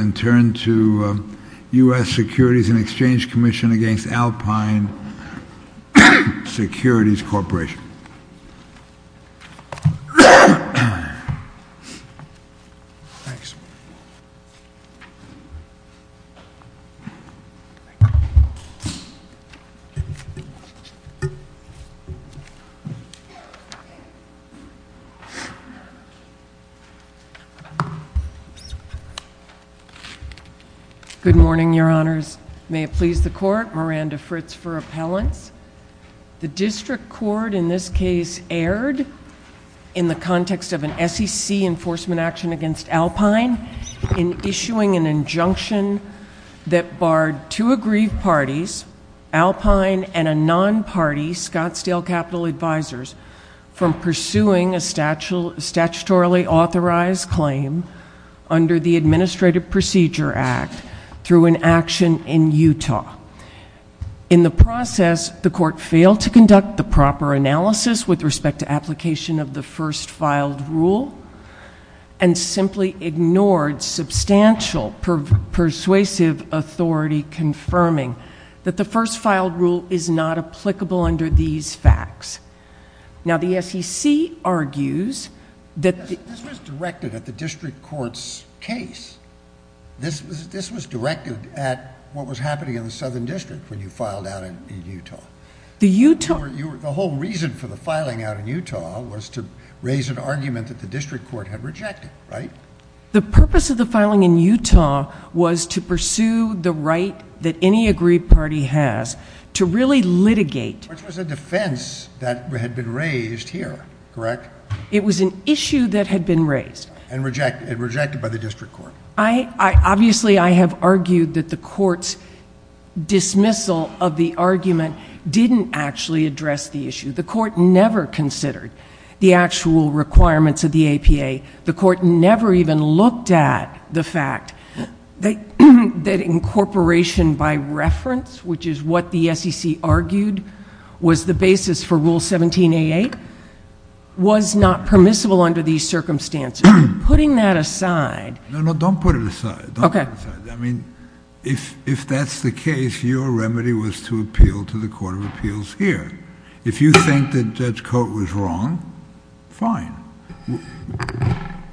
and turn to U.S. Securities and Exchange Commission against Alpine Securities Corporation. Good morning, Your Honors. May it please the Court, Miranda Fritz for Appellants. The District Court in this case erred in the context of an SEC enforcement action against Alpine in issuing an injunction that barred two aggrieved parties, Alpine and a non-party, Scottsdale Capital Advisors, from pursuing a statutorily authorized claim under the Administrative Procedure Act through an action in Utah. In the process, the Court failed to conduct the proper analysis with respect to application of the first filed rule and simply ignored substantial persuasive authority confirming that the first filed rule is not applicable under these facts. Now, the SEC argues that— This was directed at the District Court's case. This was directed at what was happening in the Southern District when you filed out in Utah. The Utah— The whole reason for the filing out in Utah was to raise an argument that the District Court had rejected, right? The purpose of the filing in Utah was to pursue the right that any aggrieved party has to really litigate— Which was a defense that had been raised here, correct? It was an issue that had been raised. And rejected by the District Court. Obviously, I have argued that the Court's dismissal of the argument didn't actually address the issue. The Court never considered the actual requirements of the APA. The Court never even looked at the fact that incorporation by reference, which is what the SEC argued was the basis for Rule 17A8, was not permissible under these circumstances. Putting that aside— No, no. Don't put it aside. Okay. I mean, if that's the case, your remedy was to appeal to the Court of Appeals here. If you think that Judge Coate was wrong, fine.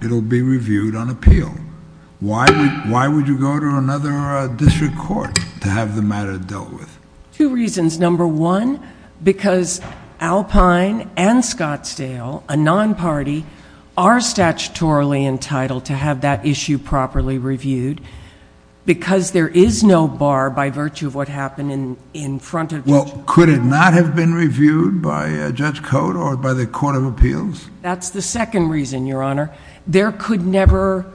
It'll be reviewed on appeal. Why would you go to another district court to have the matter dealt with? Two reasons. Number one, because Alpine and Scottsdale, a non-party, are statutorily entitled to have that issue properly reviewed. Because there is no bar by virtue of what happened in front of— Well, could it not have been reviewed by Judge Coate or by the Court of Appeals? That's the second reason, Your Honor. There could never,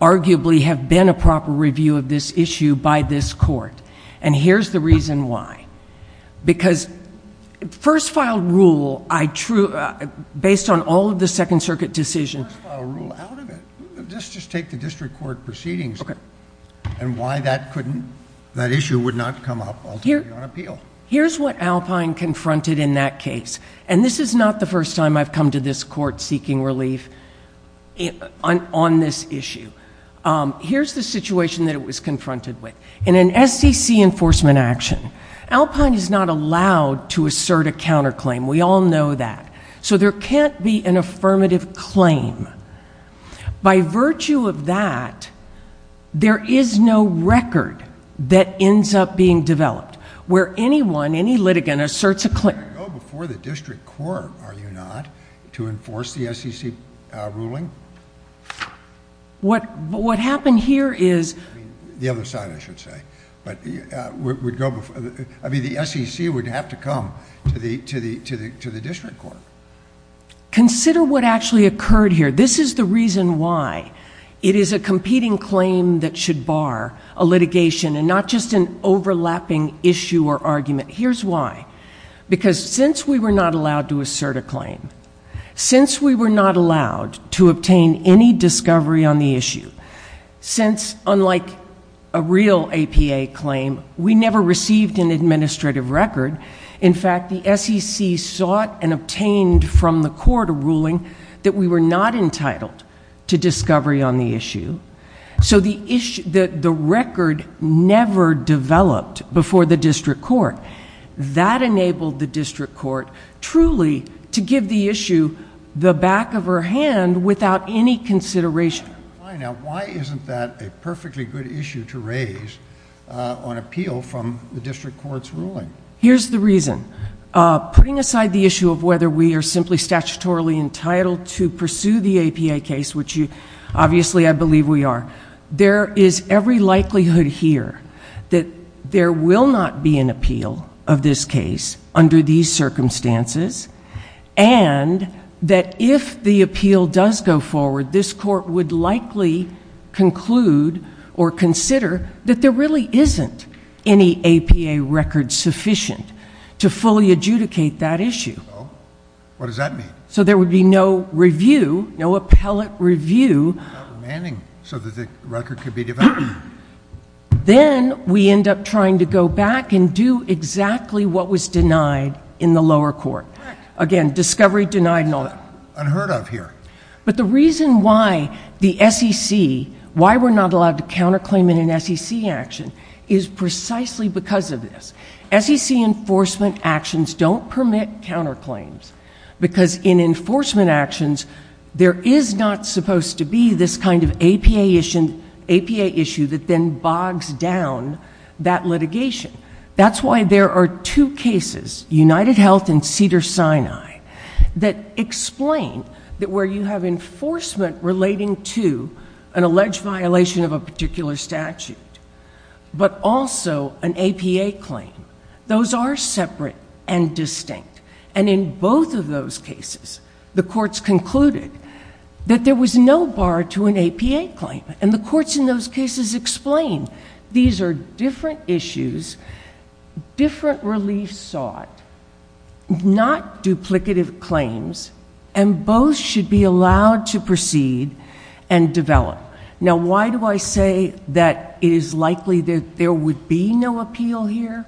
arguably, have been a proper review of this issue by this Court. And here's the reason why. Because first-file rule, based on all of the Second Circuit decisions— First-file rule, out of it. Just take the district court proceedings and why that issue would not come up ultimately on appeal. Here's what Alpine confronted in that case. And this is not the first time I've come to this court seeking relief on this issue. Here's the situation that it was confronted with. In an SEC enforcement action, Alpine is not allowed to assert a counterclaim. We all know that. So there can't be an affirmative claim. By virtue of that, there is no record that ends up being developed. Where anyone, any litigant, asserts a claim— You can't go before the district court, are you not, to enforce the SEC ruling? What happened here is— The other side, I should say. I mean, the SEC would have to come to the district court. Consider what actually occurred here. This is the reason why. It is a competing claim that should bar a litigation and not just an overlapping issue or argument. Here's why. Because since we were not allowed to assert a claim, since we were not allowed to obtain any discovery on the issue, since, unlike a real APA claim, we never received an administrative record, in fact, the SEC sought and obtained from the court a ruling that we were not entitled to discovery on the issue. So the record never developed before the district court. That enabled the district court truly to give the issue the back of her hand without any consideration. Why isn't that a perfectly good issue to raise on appeal from the district court's ruling? Here's the reason. Putting aside the issue of whether we are simply statutorily entitled to pursue the APA case, which obviously I believe we are, there is every likelihood here that there will not be an appeal of this case under these circumstances and that if the appeal does go forward, this court would likely conclude or consider that there really isn't any APA record sufficient to fully adjudicate that issue. What does that mean? So there would be no review, no appellate review. So that the record could be developed. Then we end up trying to go back and do exactly what was denied in the lower court. Correct. Again, discovery denied and all that. Unheard of here. But the reason why the SEC, why we're not allowed to counterclaim in an SEC action, is precisely because of this. SEC enforcement actions don't permit counterclaims because in enforcement actions there is not supposed to be this kind of APA issue that then bogs down that litigation. That's why there are two cases, UnitedHealth and Cedars-Sinai, that explain that where you have enforcement relating to an alleged violation of a particular statute, but also an APA claim, those are separate and distinct. And in both of those cases, the courts concluded that there was no bar to an APA claim. And the courts in those cases explained these are different issues, different relief sought, not duplicative claims, and both should be allowed to proceed and develop. Now, why do I say that it is likely that there would be no appeal here?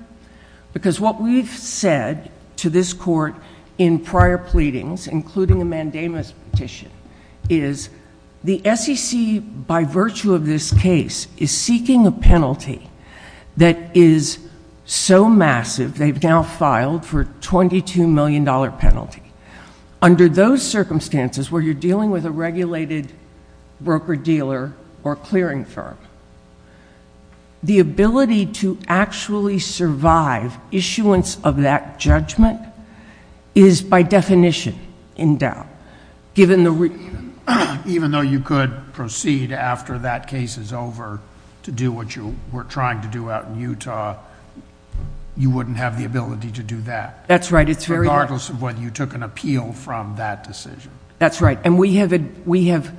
Because what we've said to this court in prior pleadings, including a mandamus petition, is the SEC, by virtue of this case, is seeking a penalty that is so massive they've now filed for a $22 million penalty. Under those circumstances, where you're dealing with a regulated broker-dealer or clearing firm, the ability to actually survive issuance of that judgment is by definition in doubt. Even though you could proceed after that case is over to do what you were trying to do out in Utah, you wouldn't have the ability to do that. That's right. Regardless of whether you took an appeal from that decision. That's right. And we have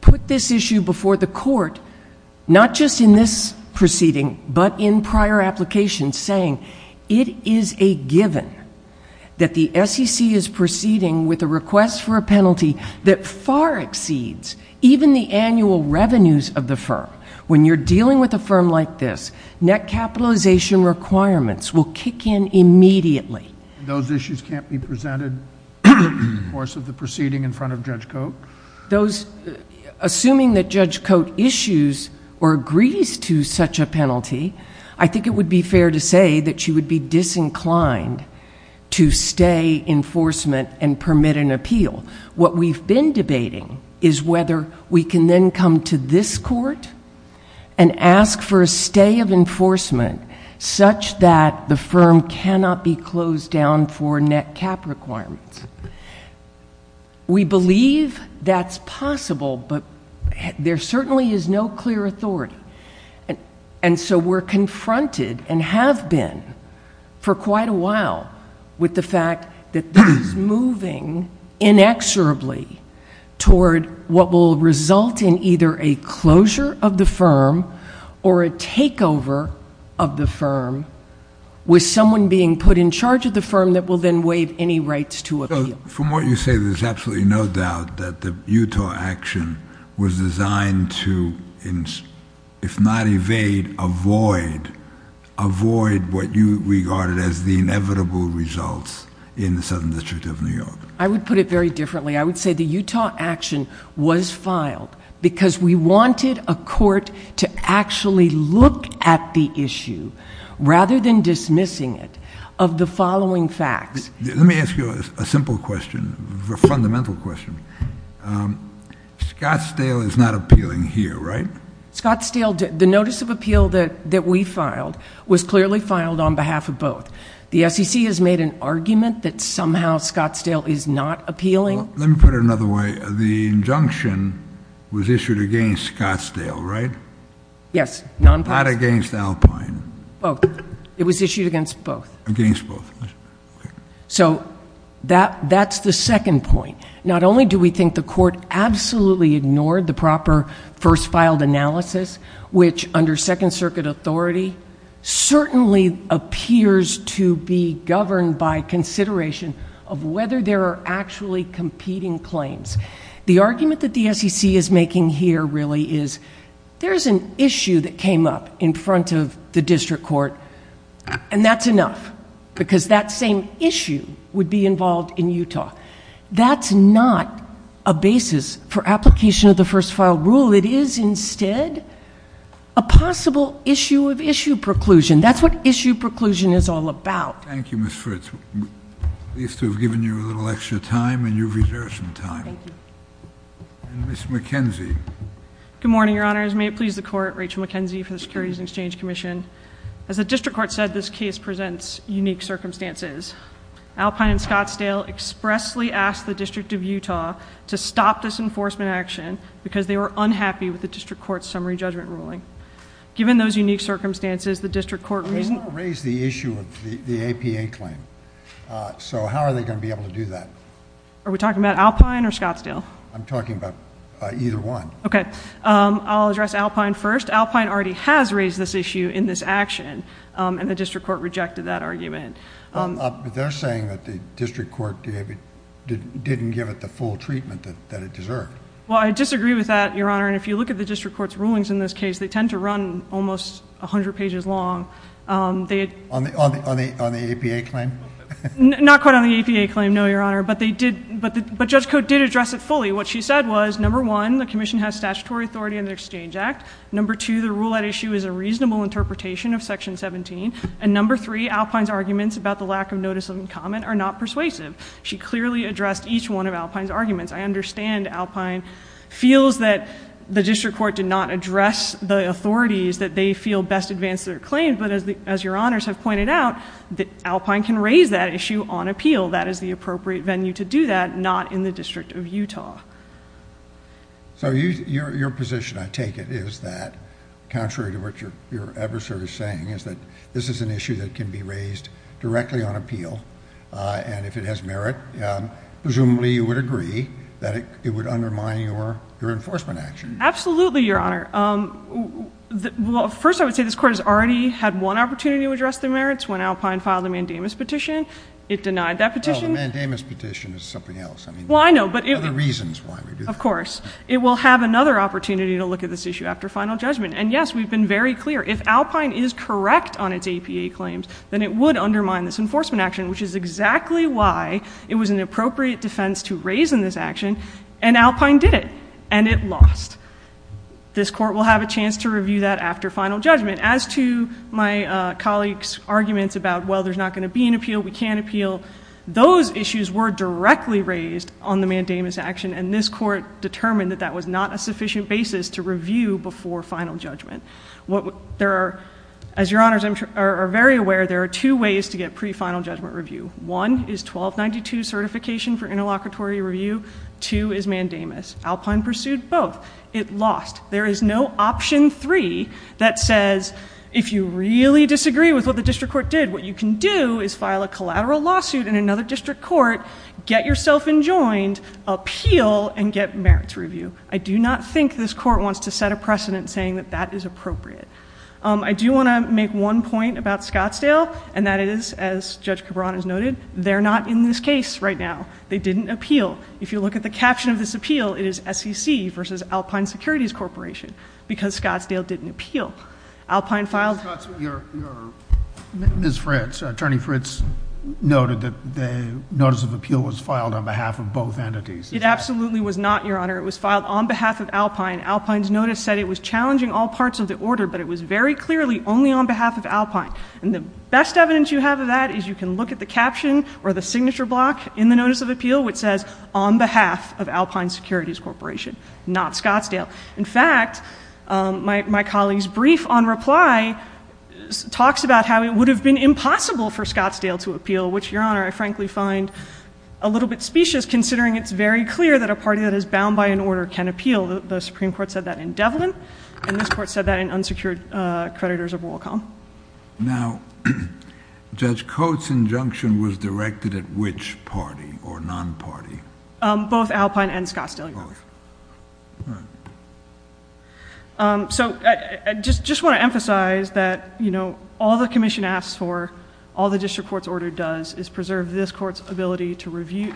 put this issue before the court, not just in this proceeding, but in prior applications saying it is a given that the SEC is proceeding with a request for a penalty that far exceeds even the annual revenues of the firm. When you're dealing with a firm like this, net capitalization requirements will kick in immediately. Those issues can't be presented in the course of the proceeding in front of Judge Cote? Assuming that Judge Cote issues or agrees to such a penalty, I think it would be fair to say that she would be disinclined to stay enforcement and permit an appeal. What we've been debating is whether we can then come to this court and ask for a stay of enforcement such that the firm cannot be closed down for net cap requirements. We believe that's possible, but there certainly is no clear authority. And so we're confronted and have been for quite a while with the fact that this is moving inexorably toward what will result in either a closure of the firm or a takeover of the firm with someone being put in charge of the firm that will then waive any rights to appeal. From what you say, there's absolutely no doubt that the Utah action was designed to, if not evade, avoid, avoid what you regarded as the inevitable results in the Southern District of New York. I would put it very differently. I would say the Utah action was filed because we wanted a court to actually look at the issue, rather than dismissing it, of the following facts. Let me ask you a simple question, a fundamental question. Scottsdale is not appealing here, right? Scottsdale, the notice of appeal that we filed was clearly filed on behalf of both. The SEC has made an argument that somehow Scottsdale is not appealing. Let me put it another way. The injunction was issued against Scottsdale, right? Yes. Not against Alpine. Both. It was issued against both. So that's the second point. Not only do we think the court absolutely ignored the proper first filed analysis, which under Second Circuit authority certainly appears to be governed by consideration of whether there are actually competing claims. The argument that the SEC is making here really is there's an issue that came up in front of the district court, and that's enough, because that same issue would be involved in Utah. That's not a basis for application of the first file rule. It is instead a possible issue of issue preclusion. That's what issue preclusion is all about. Thank you, Ms. Fritz. At least we've given you a little extra time, and you've reserved some time. Thank you. Ms. McKenzie. Good morning, Your Honors. May it please the Court, Rachel McKenzie for the Securities and Exchange Commission. As the district court said, this case presents unique circumstances. Alpine and Scottsdale expressly asked the District of Utah to stop this enforcement action because they were unhappy with the district court's summary judgment ruling. Given those unique circumstances, the district court reasoned... They want to raise the issue of the APA claim, so how are they going to be able to do that? Are we talking about Alpine or Scottsdale? I'm talking about either one. Okay. I'll address Alpine first. Alpine already has raised this issue in this action, and the district court rejected that argument. They're saying that the district court didn't give it the full treatment that it deserved. Well, I disagree with that, Your Honor, and if you look at the district court's rulings in this case, they tend to run almost 100 pages long. On the APA claim? Not quite on the APA claim, no, Your Honor, but Judge Cote did address it fully. What she said was, number one, the commission has statutory authority under the Exchange Act. Number two, the rule at issue is a reasonable interpretation of Section 17. And number three, Alpine's arguments about the lack of notice of comment are not persuasive. She clearly addressed each one of Alpine's arguments. I understand Alpine feels that the district court did not address the authorities that they feel best advance their claim, but as Your Honors have pointed out, Alpine can raise that issue on appeal. That is the appropriate venue to do that, not in the District of Utah. So your position, I take it, is that contrary to what your adversary is saying, is that this is an issue that can be raised directly on appeal, and if it has merit, presumably you would agree that it would undermine your enforcement action. Absolutely, Your Honor. First, I would say this court has already had one opportunity to address the merits when Alpine filed the mandamus petition. It denied that petition. Well, the mandamus petition is something else. Well, I know. Other reasons why we do that. Of course. It will have another opportunity to look at this issue after final judgment. And, yes, we've been very clear. If Alpine is correct on its APA claims, then it would undermine this enforcement action, which is exactly why it was an appropriate defense to raise in this action, and Alpine did it, and it lost. This court will have a chance to review that after final judgment. As to my colleague's arguments about, well, there's not going to be an appeal, we can't appeal, those issues were directly raised on the mandamus action, and this court determined that that was not a sufficient basis to review before final judgment. As Your Honors are very aware, there are two ways to get pre-final judgment review. One is 1292 certification for interlocutory review. Two is mandamus. Alpine pursued both. It lost. There is no option three that says, if you really disagree with what the district court did, what you can do is file a collateral lawsuit in another district court, get yourself enjoined, appeal, and get merits review. I do not think this court wants to set a precedent saying that that is appropriate. I do want to make one point about Scottsdale, and that is, as Judge Cabran has noted, they're not in this case right now. They didn't appeal. If you look at the caption of this appeal, it is SEC versus Alpine Securities Corporation because Scottsdale didn't appeal. Alpine filed. Ms. Fritz, Attorney Fritz noted that the notice of appeal was filed on behalf of both entities. It absolutely was not, Your Honor. It was filed on behalf of Alpine. Alpine's notice said it was challenging all parts of the order, but it was very clearly only on behalf of Alpine. And the best evidence you have of that is you can look at the caption or the signature block in the notice of appeal, which says on behalf of Alpine Securities Corporation, not Scottsdale. In fact, my colleague's brief on reply talks about how it would have been impossible for Scottsdale to appeal, which, Your Honor, I frankly find a little bit specious considering it's very clear that a party that is bound by an order can appeal. The Supreme Court said that in Devlin, and this Court said that in unsecured creditors of Wacom. Now, Judge Coates' injunction was directed at which party or non-party? Both Alpine and Scottsdale, Your Honor. Both. All right. So I just want to emphasize that all the commission asks for, all the district court's order does, is preserve this court's ability to review,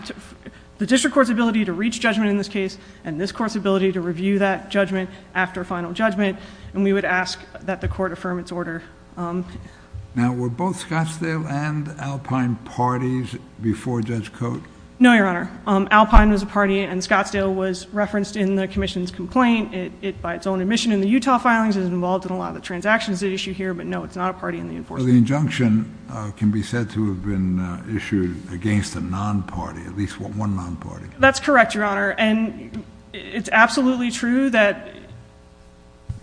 the district court's ability to reach judgment in this case, and this court's ability to review that judgment after final judgment. And we would ask that the court affirm its order. Now, were both Scottsdale and Alpine parties before Judge Coates? No, Your Honor. Alpine was a party, and Scottsdale was referenced in the commission's complaint. It, by its own admission in the Utah filings, is involved in a lot of the transactions at issue here. But no, it's not a party in the enforcement. So the injunction can be said to have been issued against a non-party, at least one non-party. That's correct, Your Honor. And it's absolutely true that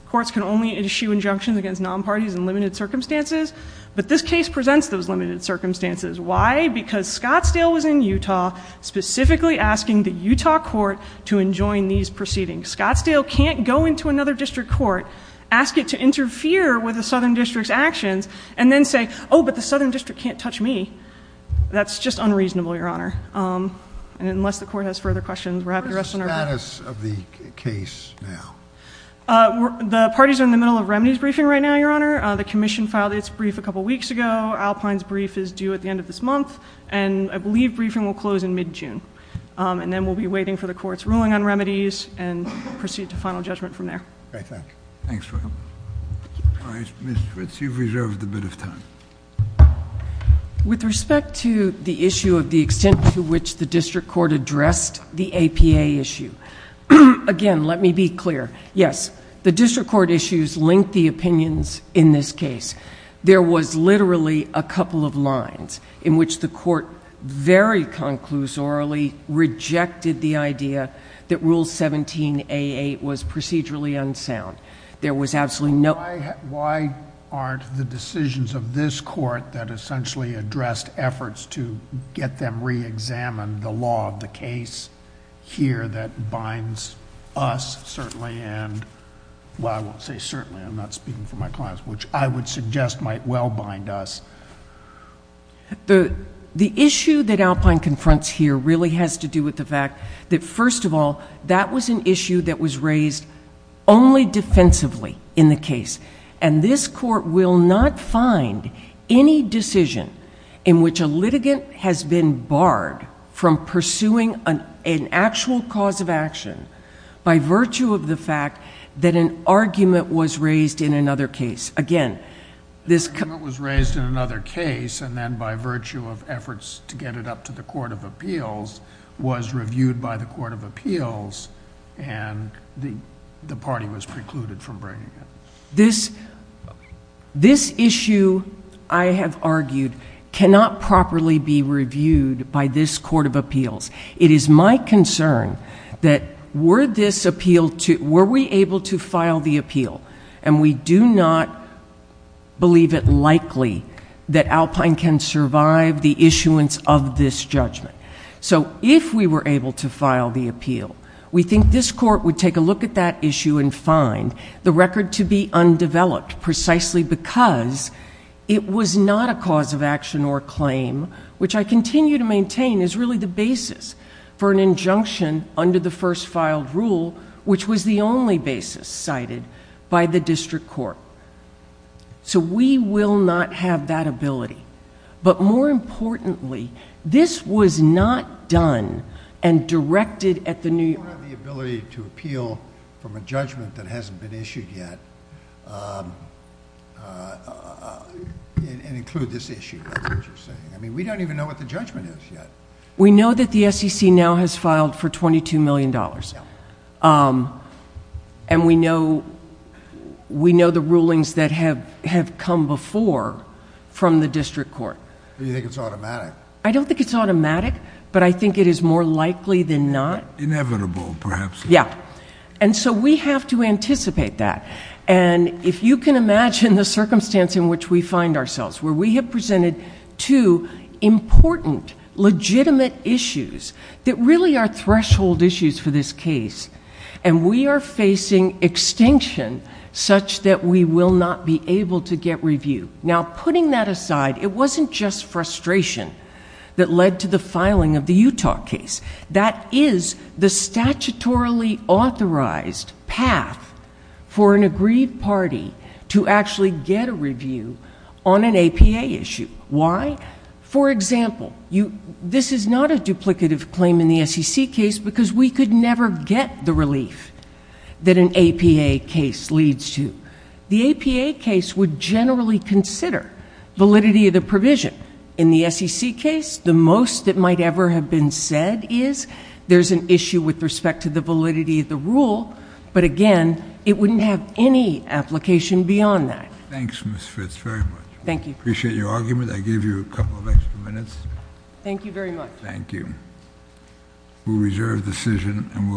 courts can only issue injunctions against non-parties in limited circumstances, but this case presents those limited circumstances. Why? Because Scottsdale was in Utah specifically asking the Utah court to enjoin these proceedings. Scottsdale can't go into another district court, ask it to interfere with a southern district's actions, and then say, oh, but the southern district can't touch me. That's just unreasonable, Your Honor. And unless the court has further questions, we're happy to rest on our feet. What is the status of the case now? The parties are in the middle of remedies briefing right now, Your Honor. The commission filed its brief a couple weeks ago. Alpine's brief is due at the end of this month, and I believe briefing will close in mid-June. And then we'll be waiting for the court's ruling on remedies and proceed to final judgment from there. Okay, thank you. Thanks. Ms. Ritz, you've reserved a bit of time. With respect to the issue of the extent to which the district court addressed the APA issue, again, let me be clear. Yes, the district court issues link the opinions in this case. There was literally a couple of lines in which the court very conclusorily rejected the idea that Rule 17a8 was procedurally unsound. There was absolutely no... Why aren't the decisions of this court that essentially addressed efforts to get them reexamined, the law of the case here that binds us certainly and... Well, I won't say certainly. I'm not speaking for my clients, which I would suggest might well bind us. The issue that Alpine confronts here really has to do with the fact that, first of all, that was an issue that was raised only defensively in the case. And this court will not find any decision in which a litigant has been barred from pursuing an actual cause of action by virtue of the fact that an argument was raised in another case. Again, this... An argument was raised in another case and then by virtue of efforts to get it up to the Court of Appeals was reviewed by the Court of Appeals and the party was precluded from bringing it. This issue, I have argued, cannot properly be reviewed by this Court of Appeals. It is my concern that were this appeal... were we able to file the appeal? And we do not believe it likely that Alpine can survive the issuance of this judgment. So if we were able to file the appeal, we think this court would take a look at that issue and find the record to be undeveloped precisely because it was not a cause of action or a claim, which I continue to maintain is really the basis for an injunction under the first filed rule, which was the only basis cited by the district court. So we will not have that ability. But more importantly, this was not done and directed at the New York... We don't have the ability to appeal from a judgment that hasn't been issued yet and include this issue. We don't even know what the judgment is yet. We know that the SEC now has filed for $22 million. And we know the rulings that have come before from the district court. Do you think it's automatic? I don't think it's automatic, but I think it is more likely than not. Inevitable, perhaps. Yeah. And so we have to anticipate that. And if you can imagine the circumstance in which we find ourselves, where we have presented two important, legitimate issues that really are threshold issues for this case, and we are facing extinction such that we will not be able to get review. Now, putting that aside, it wasn't just frustration that led to the filing of the Utah case. That is the statutorily authorized path for an agreed party to actually get a review on an APA issue. Why? For example, this is not a duplicative claim in the SEC case because we could never get the relief that an APA case leads to. The APA case would generally consider validity of the provision. In the SEC case, the most that might ever have been said is there's an issue with respect to the validity of the rule, but, again, it wouldn't have any application beyond that. Thanks, Ms. Fitts, very much. Thank you. Appreciate your argument. I gave you a couple of extra minutes. Thank you very much. Thank you. We'll reserve the decision and we'll hear from you.